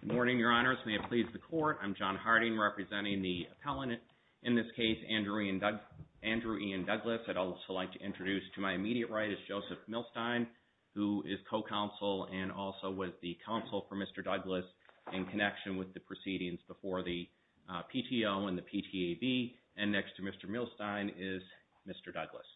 Good morning, Your Honors. May it please the Court. I'm John Harding, representing the appellant. In this case, Andrew Ian Douglass. I'd also like to introduce to my immediate right is Joseph Milstein, who is co-counsel and also was the counsel for Mr. Douglass in connection with the proceedings before the PTO and the PTAB. And next to Mr. Milstein is Mr. Douglass.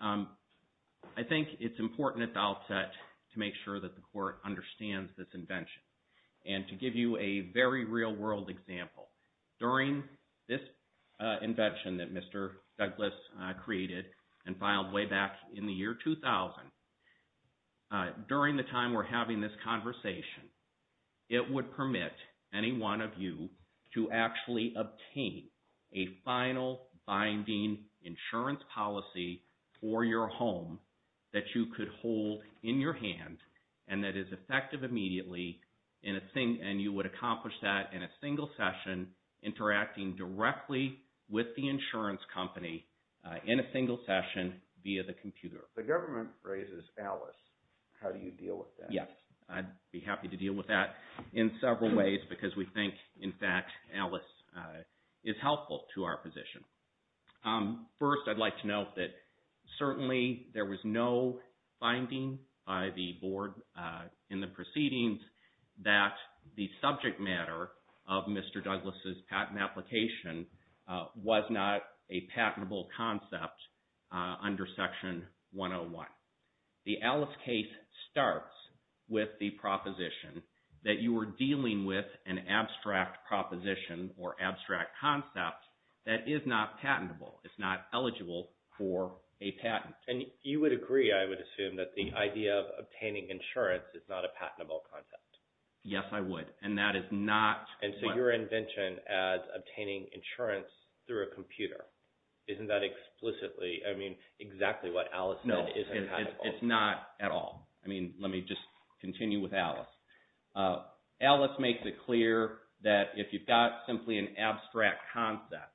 I think it's important at the outset to make sure that the Court understands this invention and to give you a very real-world example. During this invention that Mr. Douglass created and filed way back in the year 2000, during the time we're having this conversation, it would permit any one of you to actually obtain a final binding insurance policy for your home that you could hold in your hand and that is effective immediately. And you would accomplish that in a single session, interacting directly with the insurance company in a single session via the computer. The government raises Alice. How do you deal with that? Yes, I'd be happy to deal with that in several ways because we think, in fact, Alice is helpful to our position. First, I'd like to note that certainly there was no finding by the Board in the proceedings that the subject matter of Mr. Douglass' patent application was not a patentable concept under Section 101. The Alice case starts with the proposition that you were dealing with an abstract proposition or abstract concept that is not patentable. It's not eligible for a patent. And you would agree, I would assume, that the idea of obtaining insurance is not a patentable concept. Yes, I would. And that is not... And so your invention as obtaining insurance through a computer, isn't that explicitly, I mean, exactly what Alice did is patentable. No, it's not at all. I mean, let me just make it clear that if you've got simply an abstract concept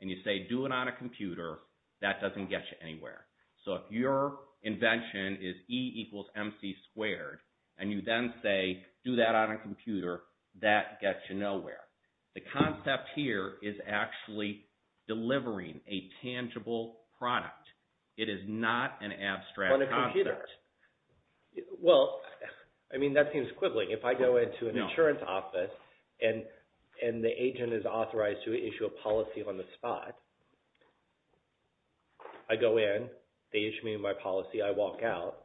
and you say, do it on a computer, that doesn't get you anywhere. So if your invention is E equals MC squared and you then say, do that on a computer, that gets you nowhere. The concept here is actually delivering a tangible product. It is not an abstract concept. Well, I mean, that seems quibbling. If I go into an insurance office and the agent is authorized to issue a policy on the spot, I go in, they issue me my policy, I walk out.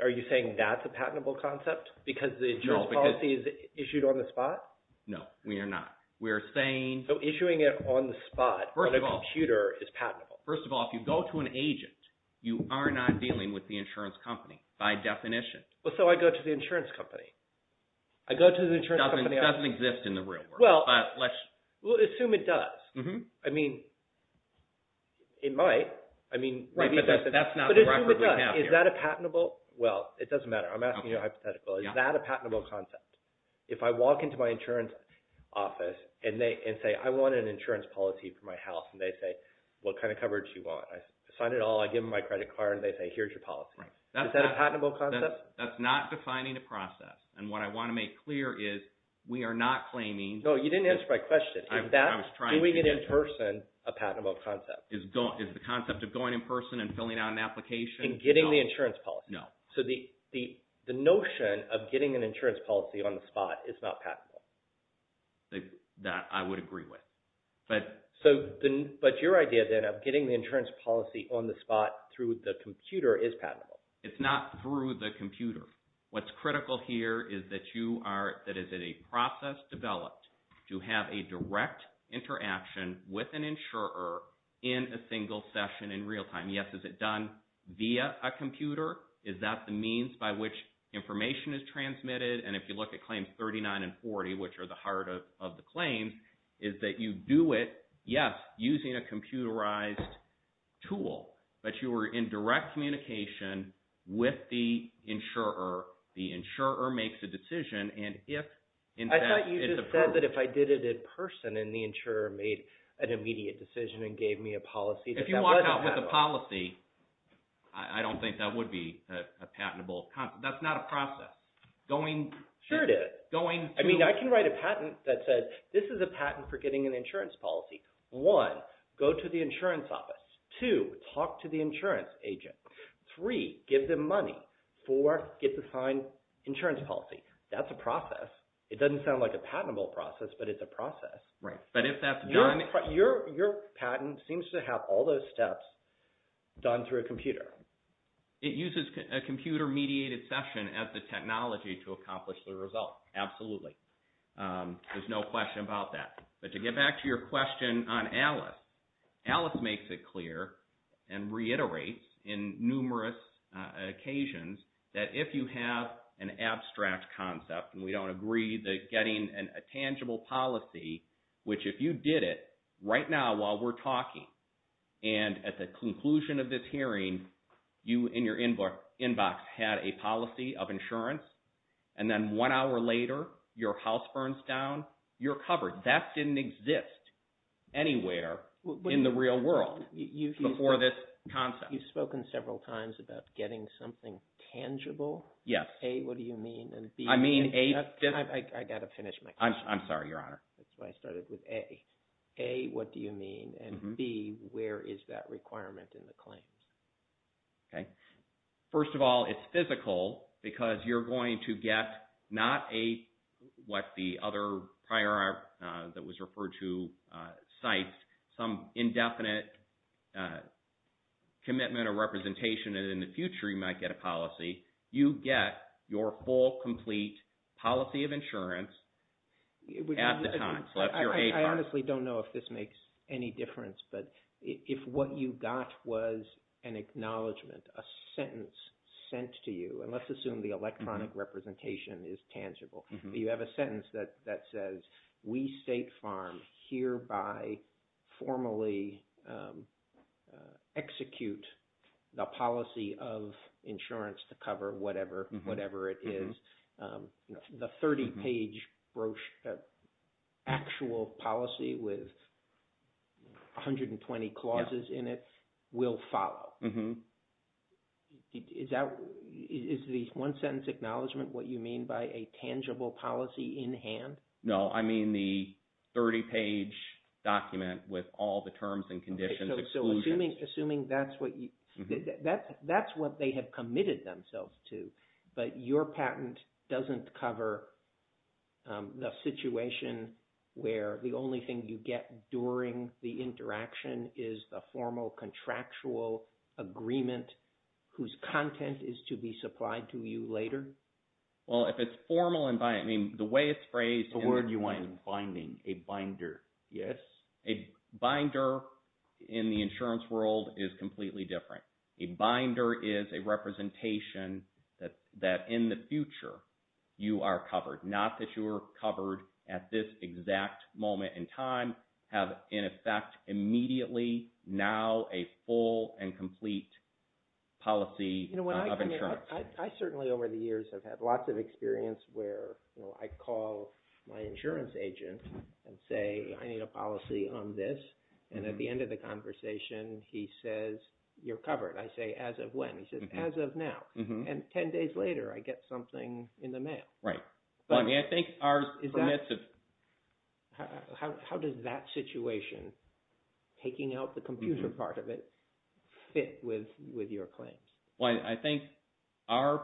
Are you saying that's a patentable concept because the insurance policy is issued on the spot? No, we are not. We're saying... So issuing it on the spot on a computer is patentable. First of all, if you go to an agent, you are not dealing with the insurance company by definition. Well, so I go to the insurance company. I go to the insurance company... It doesn't exist in the real world. Well, let's assume it does. I mean, it might. I mean... Right, but that's not the record we have here. Is that a patentable... Well, it doesn't matter. I'm asking you a hypothetical. Is that a patentable concept? If I walk into my insurance office and say, I want an insurance policy for my house, and they say, what kind of coverage you want? I sign it all, I give them my credit card, and they say, here's your policy. Is that a patentable concept? That's not defining the process, and what I want to make clear is we are not claiming... No, you didn't answer my question. If that's... I was trying to... Do we get in person a patentable concept? Is the concept of going in person and filling out an application... In getting the insurance policy? No. So the notion of getting an insurance policy on the spot is not patentable? That I would agree with, but... But your idea, then, of getting the insurance policy on the spot through the computer is patentable. It's not through the computer. What's critical here is that you are... That it is a process developed to have a direct interaction with an insurer in a single session in real time. Yes, is it done via a computer? Is that the means by which information is transmitted? And if you look at claims 39 and 40, which are the heart of the claims, is that you do it, yes, using a computerized tool, but you are in direct communication with the insurer. The insurer makes a decision, and if... I thought you just said that if I did it in person, and the insurer made an immediate decision and gave me a policy... If you walked out with a policy, I don't think that would be a patentable... That's not a patentable process. I mean, I can write a patent that says, this is a patent for getting an insurance policy. One, go to the insurance office. Two, talk to the insurance agent. Three, give them money. Four, get the signed insurance policy. That's a process. It doesn't sound like a patentable process, but it's a process. Right, but if that's done... Your patent seems to have all those steps done through a computer. It uses a computer-mediated session as the result. Absolutely. There's no question about that. But to get back to your question on Alice, Alice makes it clear and reiterates in numerous occasions that if you have an abstract concept, and we don't agree that getting a tangible policy, which if you did it right now while we're talking, and at the conclusion of this hearing, you in your inbox had a policy of insurance, and then one hour later, your house burns down, you're covered. That didn't exist anywhere in the real world before this concept. You've spoken several times about getting something tangible. Yes. A, what do you mean, and B... I mean... I got to finish my question. I'm sorry, Your Honor. That's why I started with A. A, what do you mean, and B, where is that requirement in the claims? Okay, first of all, it's physical because you're going to get not a, what the other prior that was referred to cites, some indefinite commitment or representation, and in the future you might get a policy. You get your full complete policy of insurance at the time. I honestly don't know if this makes any difference, but if what you got was an acknowledgment, a sentence sent to you, and let's assume the electronic representation is tangible. You have a sentence that says, we State Farm hereby formally execute the policy of insurance to cover whatever, whatever it is. The 30-page brochure, actual policy with 120 clauses in it will follow. Mm-hmm. Is that, is the one-sentence acknowledgment what you mean by a tangible policy in hand? No, I mean the 30-page document with all the terms and conditions. So assuming that's what you, that's what they have patent doesn't cover the situation where the only thing you get during the interaction is the formal contractual agreement whose content is to be supplied to you later? Well, if it's formal environment, I mean the way it's phrased. The word you want is binding, a binder. Yes. A binder in the insurance world is completely different. A binder is a representation that, that in the future, you are covered. Not that you're covered at this exact moment in time, have in effect immediately, now a full and complete policy of insurance. You know what I've heard, I certainly over the years have had lots of experience where I call my insurance agent and say I need a policy on this, and at the end of the conversation he says you're covered. I say as of when? He says 10 days later I get something in the mail. Right. I mean I think ours is that, how does that situation, taking out the computer part of it, fit with with your claims? Well, I think our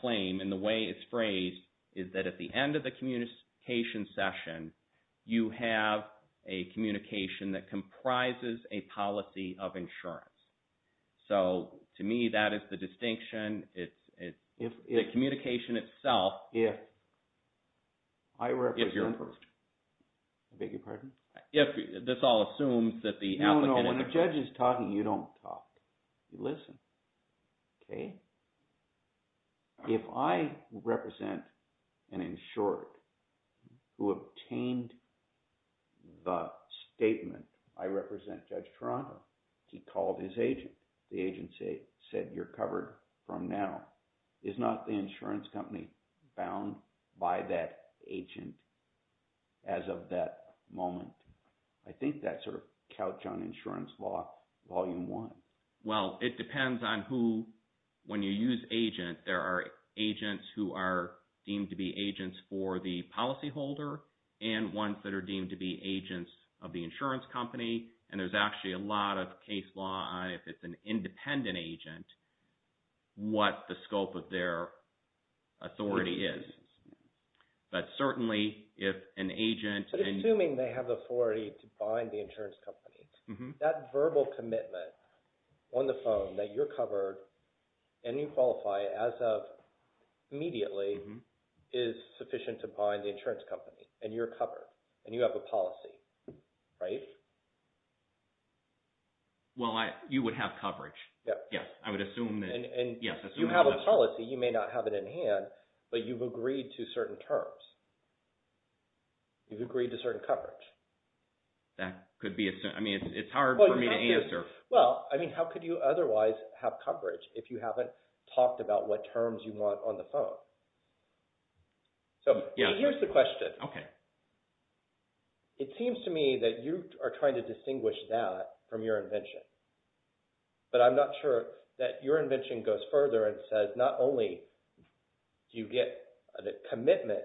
claim and the way it's phrased is that at the end of the communication session, you have a communication that comprises a policy of communication itself, if you're approved. I beg your pardon? If, this all assumes that the applicant... No, no, when the judge is talking, you don't talk. You listen. Okay. If I represent an insured who obtained the statement I represent Judge Toronto, he called his agent, the agency said you're covered from now. Is not the insurance company bound by that agent as of that moment? I think that's our couch on insurance law, volume one. Well, it depends on who, when you use agent, there are agents who are deemed to be agents for the policyholder and ones that are deemed to be agents of the insurance company, and there's actually a lot of case law if it's an independent agent, what the scope of their authority is, but certainly if an agent... Assuming they have the authority to bind the insurance company, that verbal commitment on the phone that you're covered and you qualify as of immediately is sufficient to bind the insurance company and you're covered. If you have a policy, you may not have it in hand, but you've agreed to certain terms. You've agreed to certain coverage. That could be, I mean, it's hard for me to answer. Well, I mean, how could you otherwise have coverage if you haven't talked about what terms you want on the phone? So here's the question. Okay. It seems to me that you are trying to distinguish that from your invention, but I'm not sure that your invention goes further and says not only do you get a commitment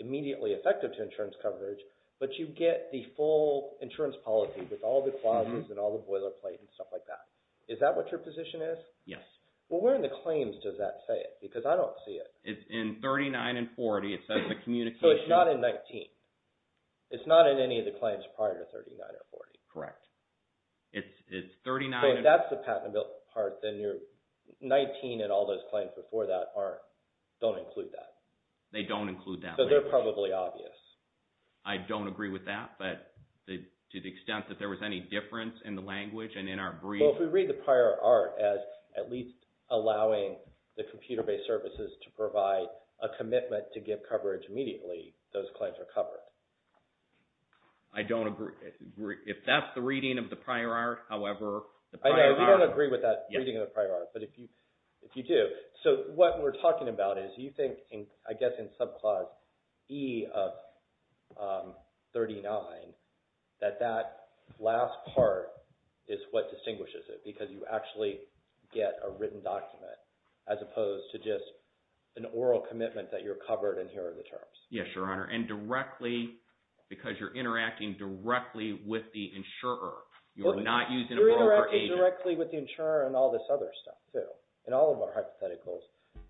immediately effective to insurance coverage, but you get the full insurance policy with all the clauses and all the boilerplate and stuff like that. Is that what your position is? Yes. Well, where in the claims does that say it? Because I don't see it. It's in 39 and 40. It says the communication- So it's not in 19. It's not in any of the claims prior to 39 or 40. Correct. It's 39- So if that's the patentable part, then your 19 and all those claims before that don't include that. They don't include that. So they're probably obvious. I don't agree with that, but to the extent that there was any difference in the language and in our brief- I don't agree. If that's the reading of the prior art, however, the prior art- I know. We don't agree with that reading of the prior art, but if you do. So what we're talking about is you think, I guess in subclause E of 39, that that last part is what distinguishes it because you actually get a written document as opposed to just an oral commitment that you're covered and here are the terms. Yes, Your Honor, and directly because you're interacting directly with the insurer. You're not using a broker or agent. You're interacting directly with the insurer and all this other stuff, too. In all of our hypotheticals,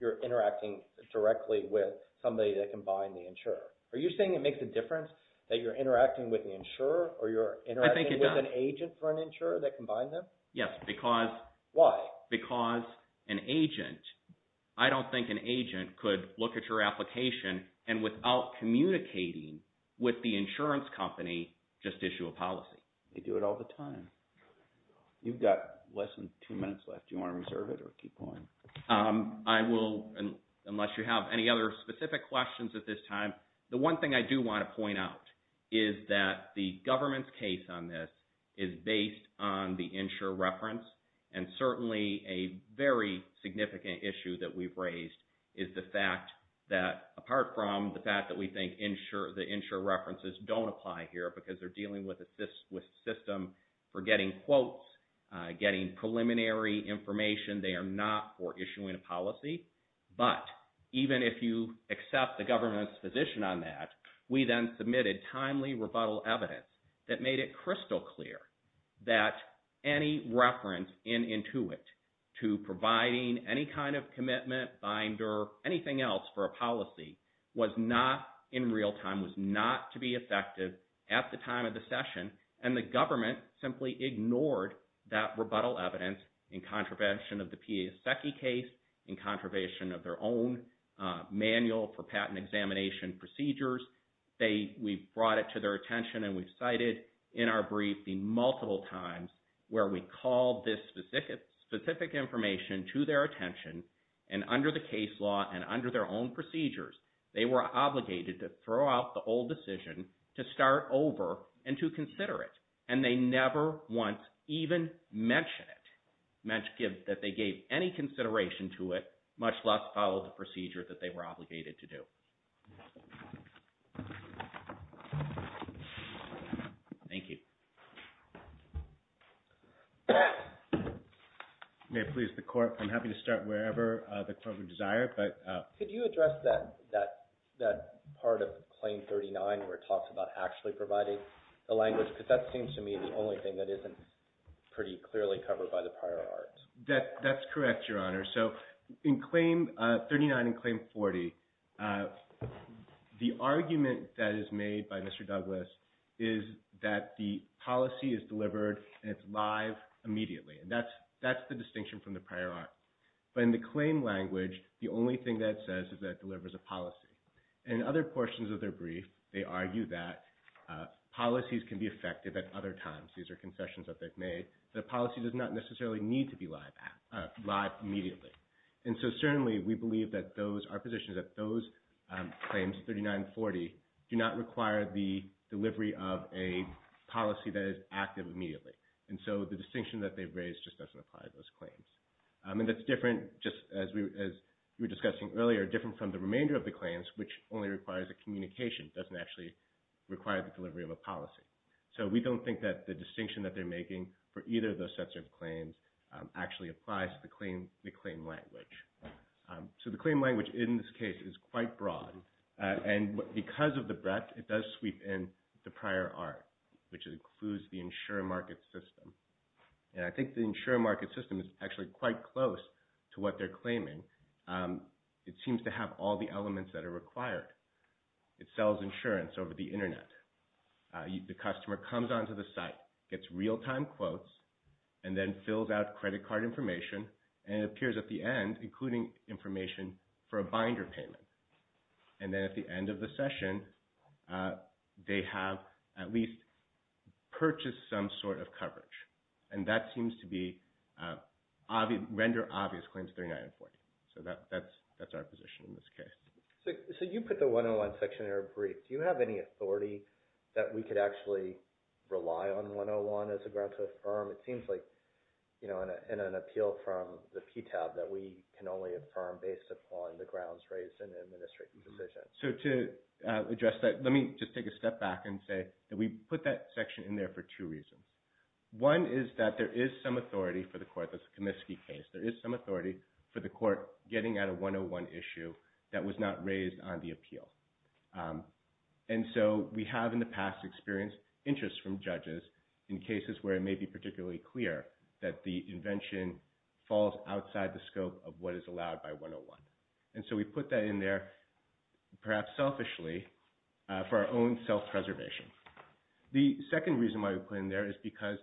you're interacting directly with somebody that can bind the insurer. Are you saying it makes a difference that you're interacting with the insurer or you're interacting with an agent for an insurer that can bind them? Yes, because- Why? Because an agent, I don't think an agent could look at your application and without communicating with the insurance company, just issue a policy. They do it all the time. You've got less than two minutes left. Do you want to reserve it or keep going? I will, unless you have any other specific questions at this time. The one thing I do want to point out is that the government's case on this is based on the insurer reference and certainly a very significant issue that we've raised is the fact that, apart from the fact that we think the insurer references don't apply here because they're dealing with a system for getting quotes, getting preliminary information. They are not for timely rebuttal evidence that made it crystal clear that any reference in Intuit to providing any kind of commitment, binder, anything else for a policy was not in real time, was not to be effective at the time of the session and the government simply ignored that rebuttal evidence in contravention of the PASECI case, in contravention of their own manual for patent examination procedures. We've brought it to their attention and we've cited in our brief the multiple times where we called this specific information to their attention and under the case law and under their own procedures, they were obligated to throw out the old decision to start over and to consider it and they never once even mention it, that they gave any consideration to it, much less follow the procedure that they were obligated to do. Thank you. May I please, the court, I'm happy to start wherever the court would desire, but... Could you address that part of Claim 39 where it talks about actually providing the language because that seems to me the only thing that isn't pretty clearly covered by the prior arts. That's correct, Your Honor. So in Claim 39 and Claim 40, the argument that is made by Mr. Douglas is that the policy is delivered and it's live immediately and that's the distinction from the prior art. But in the claim language, the only thing that it says is that it delivers a policy. In other portions of their brief, they argue that policies can be effective at other times. These are confessions that they've made. The policy does not necessarily need to be live immediately. And so certainly we believe that those are positions that those claims, 39 and 40, do not require the delivery of a policy that is active immediately. And so the distinction that they've raised just doesn't apply to those claims. And that's different just as we were discussing earlier, different from the remainder of the claims, which only requires a communication, doesn't actually require the delivery of a policy. So we don't think that the distinction that they're making for either of those sets of claims actually applies to the claim language. So the claim language in this case is quite broad. And because of the breadth, it does sweep in the prior art, which includes the insurer market system. And I think the insurer market system is actually quite close to what they're claiming. It seems to have all the elements that are required. It sells insurance over the internet. The customer comes onto the site, gets real-time quotes, and then fills out credit card information and appears at the end, including information for a binder payment. And then at the end of the session, they have at least purchased some sort of coverage. And that seems to be, render obvious claims 39 and 40. So that's our position in this case. So you put the 101 section in our brief. Do you have any authority that we could actually rely on 101 as a ground to affirm? It seems like in an appeal from the PTAB that we can only affirm based upon the grounds raised in the administrative decision. So to address that, let me just take a step back and say that we put that section in there for two reasons. One is that there is some authority for the court. That's a Comiskey case. There is some issue that was not raised on the appeal. And so we have in the past experienced interest from judges in cases where it may be particularly clear that the invention falls outside the scope of what is allowed by 101. And so we put that in there perhaps selfishly for our own self-preservation. The second reason why we put in there is because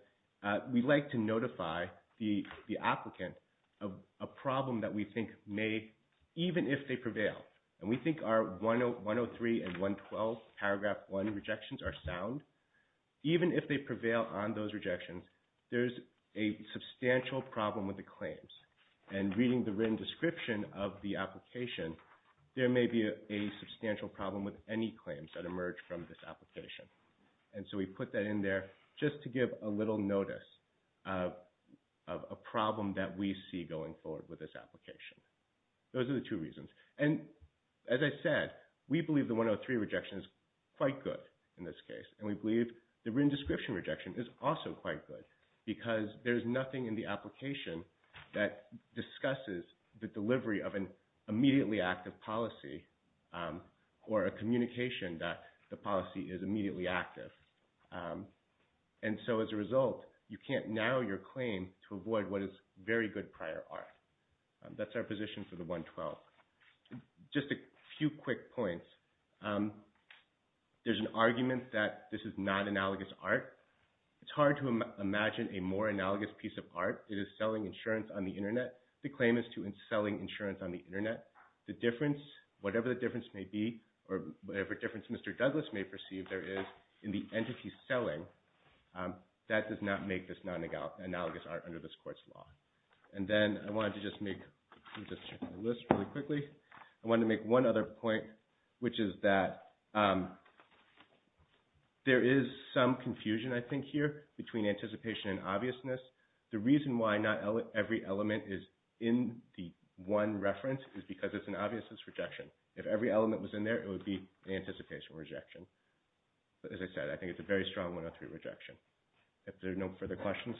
we'd like to notify the applicant of a problem that we think may, even if they prevail, and we think our 103 and 112 paragraph one rejections are sound, even if they prevail on those rejections, there's a substantial problem with the claims. And reading the written description of the application, there may be a substantial problem with any claims that emerge from this application. And so we put that in there just to give a little notice of a problem that we see going forward with this application. Those are the two reasons. And as I said, we believe the 103 rejection is quite good in this case. And we believe the written description rejection is also quite good because there's nothing in the application that discusses the delivery of an immediately active policy or a communication that the policy is immediately active. And so as a result, you can't narrow your claim to avoid what is very good prior art. That's our position for the 112. Just a few quick points. There's an argument that this is not analogous art. It's hard to imagine a more analogous piece of art. It is selling insurance on the internet. The claim is to selling insurance on the internet. The difference, whatever the perceived there is in the entity selling, that does not make this non-analogous art under this court's law. And then I wanted to just make, let me just check my list really quickly. I wanted to make one other point, which is that there is some confusion, I think, here between anticipation and obviousness. The reason why not every element is in the one reference is because it's an obvious rejection. If every element was in there, it would be anticipation rejection. But as I said, I think it's a very strong 103 rejection. If there are no further questions,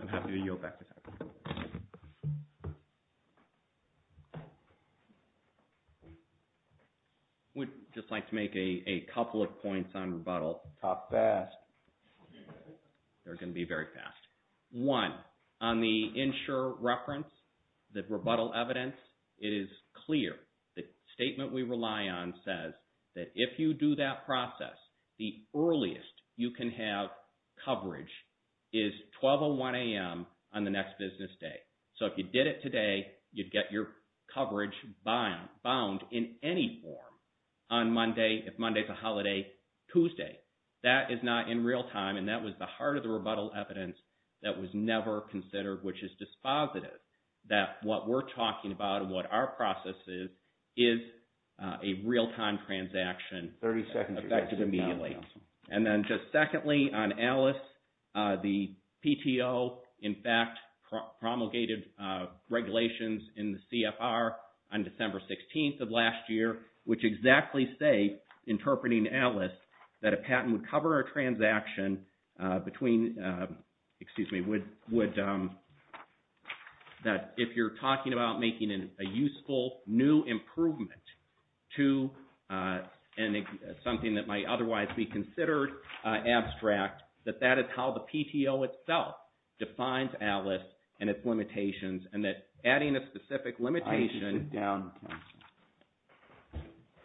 I'm happy to yield back. We'd just like to make a couple of points on rebuttal. How fast? They're going to be very fast. One, on the insurer reference, the rebuttal evidence is clear. The statement we rely on says that if you do that process, the earliest you can have coverage is 12 or 1 a.m. on the next business day. So if you did it today, you'd get your coverage bound in any form on Monday. If Monday's Tuesday, that is not in real time. And that was the heart of the rebuttal evidence that was never considered, which is dispositive, that what we're talking about and what our process is, is a real-time transaction effective immediately. And then just secondly, on Alice, the PTO, in fact, promulgated regulations in the CFR on December 16th of last year, which exactly say, interpreting Alice, that a patent would cover a transaction between, excuse me, that if you're talking about making a useful new improvement to something that might otherwise be considered abstract, that that is how the PTO itself defines Alice and its limitations. And that's adding a specific limitation down.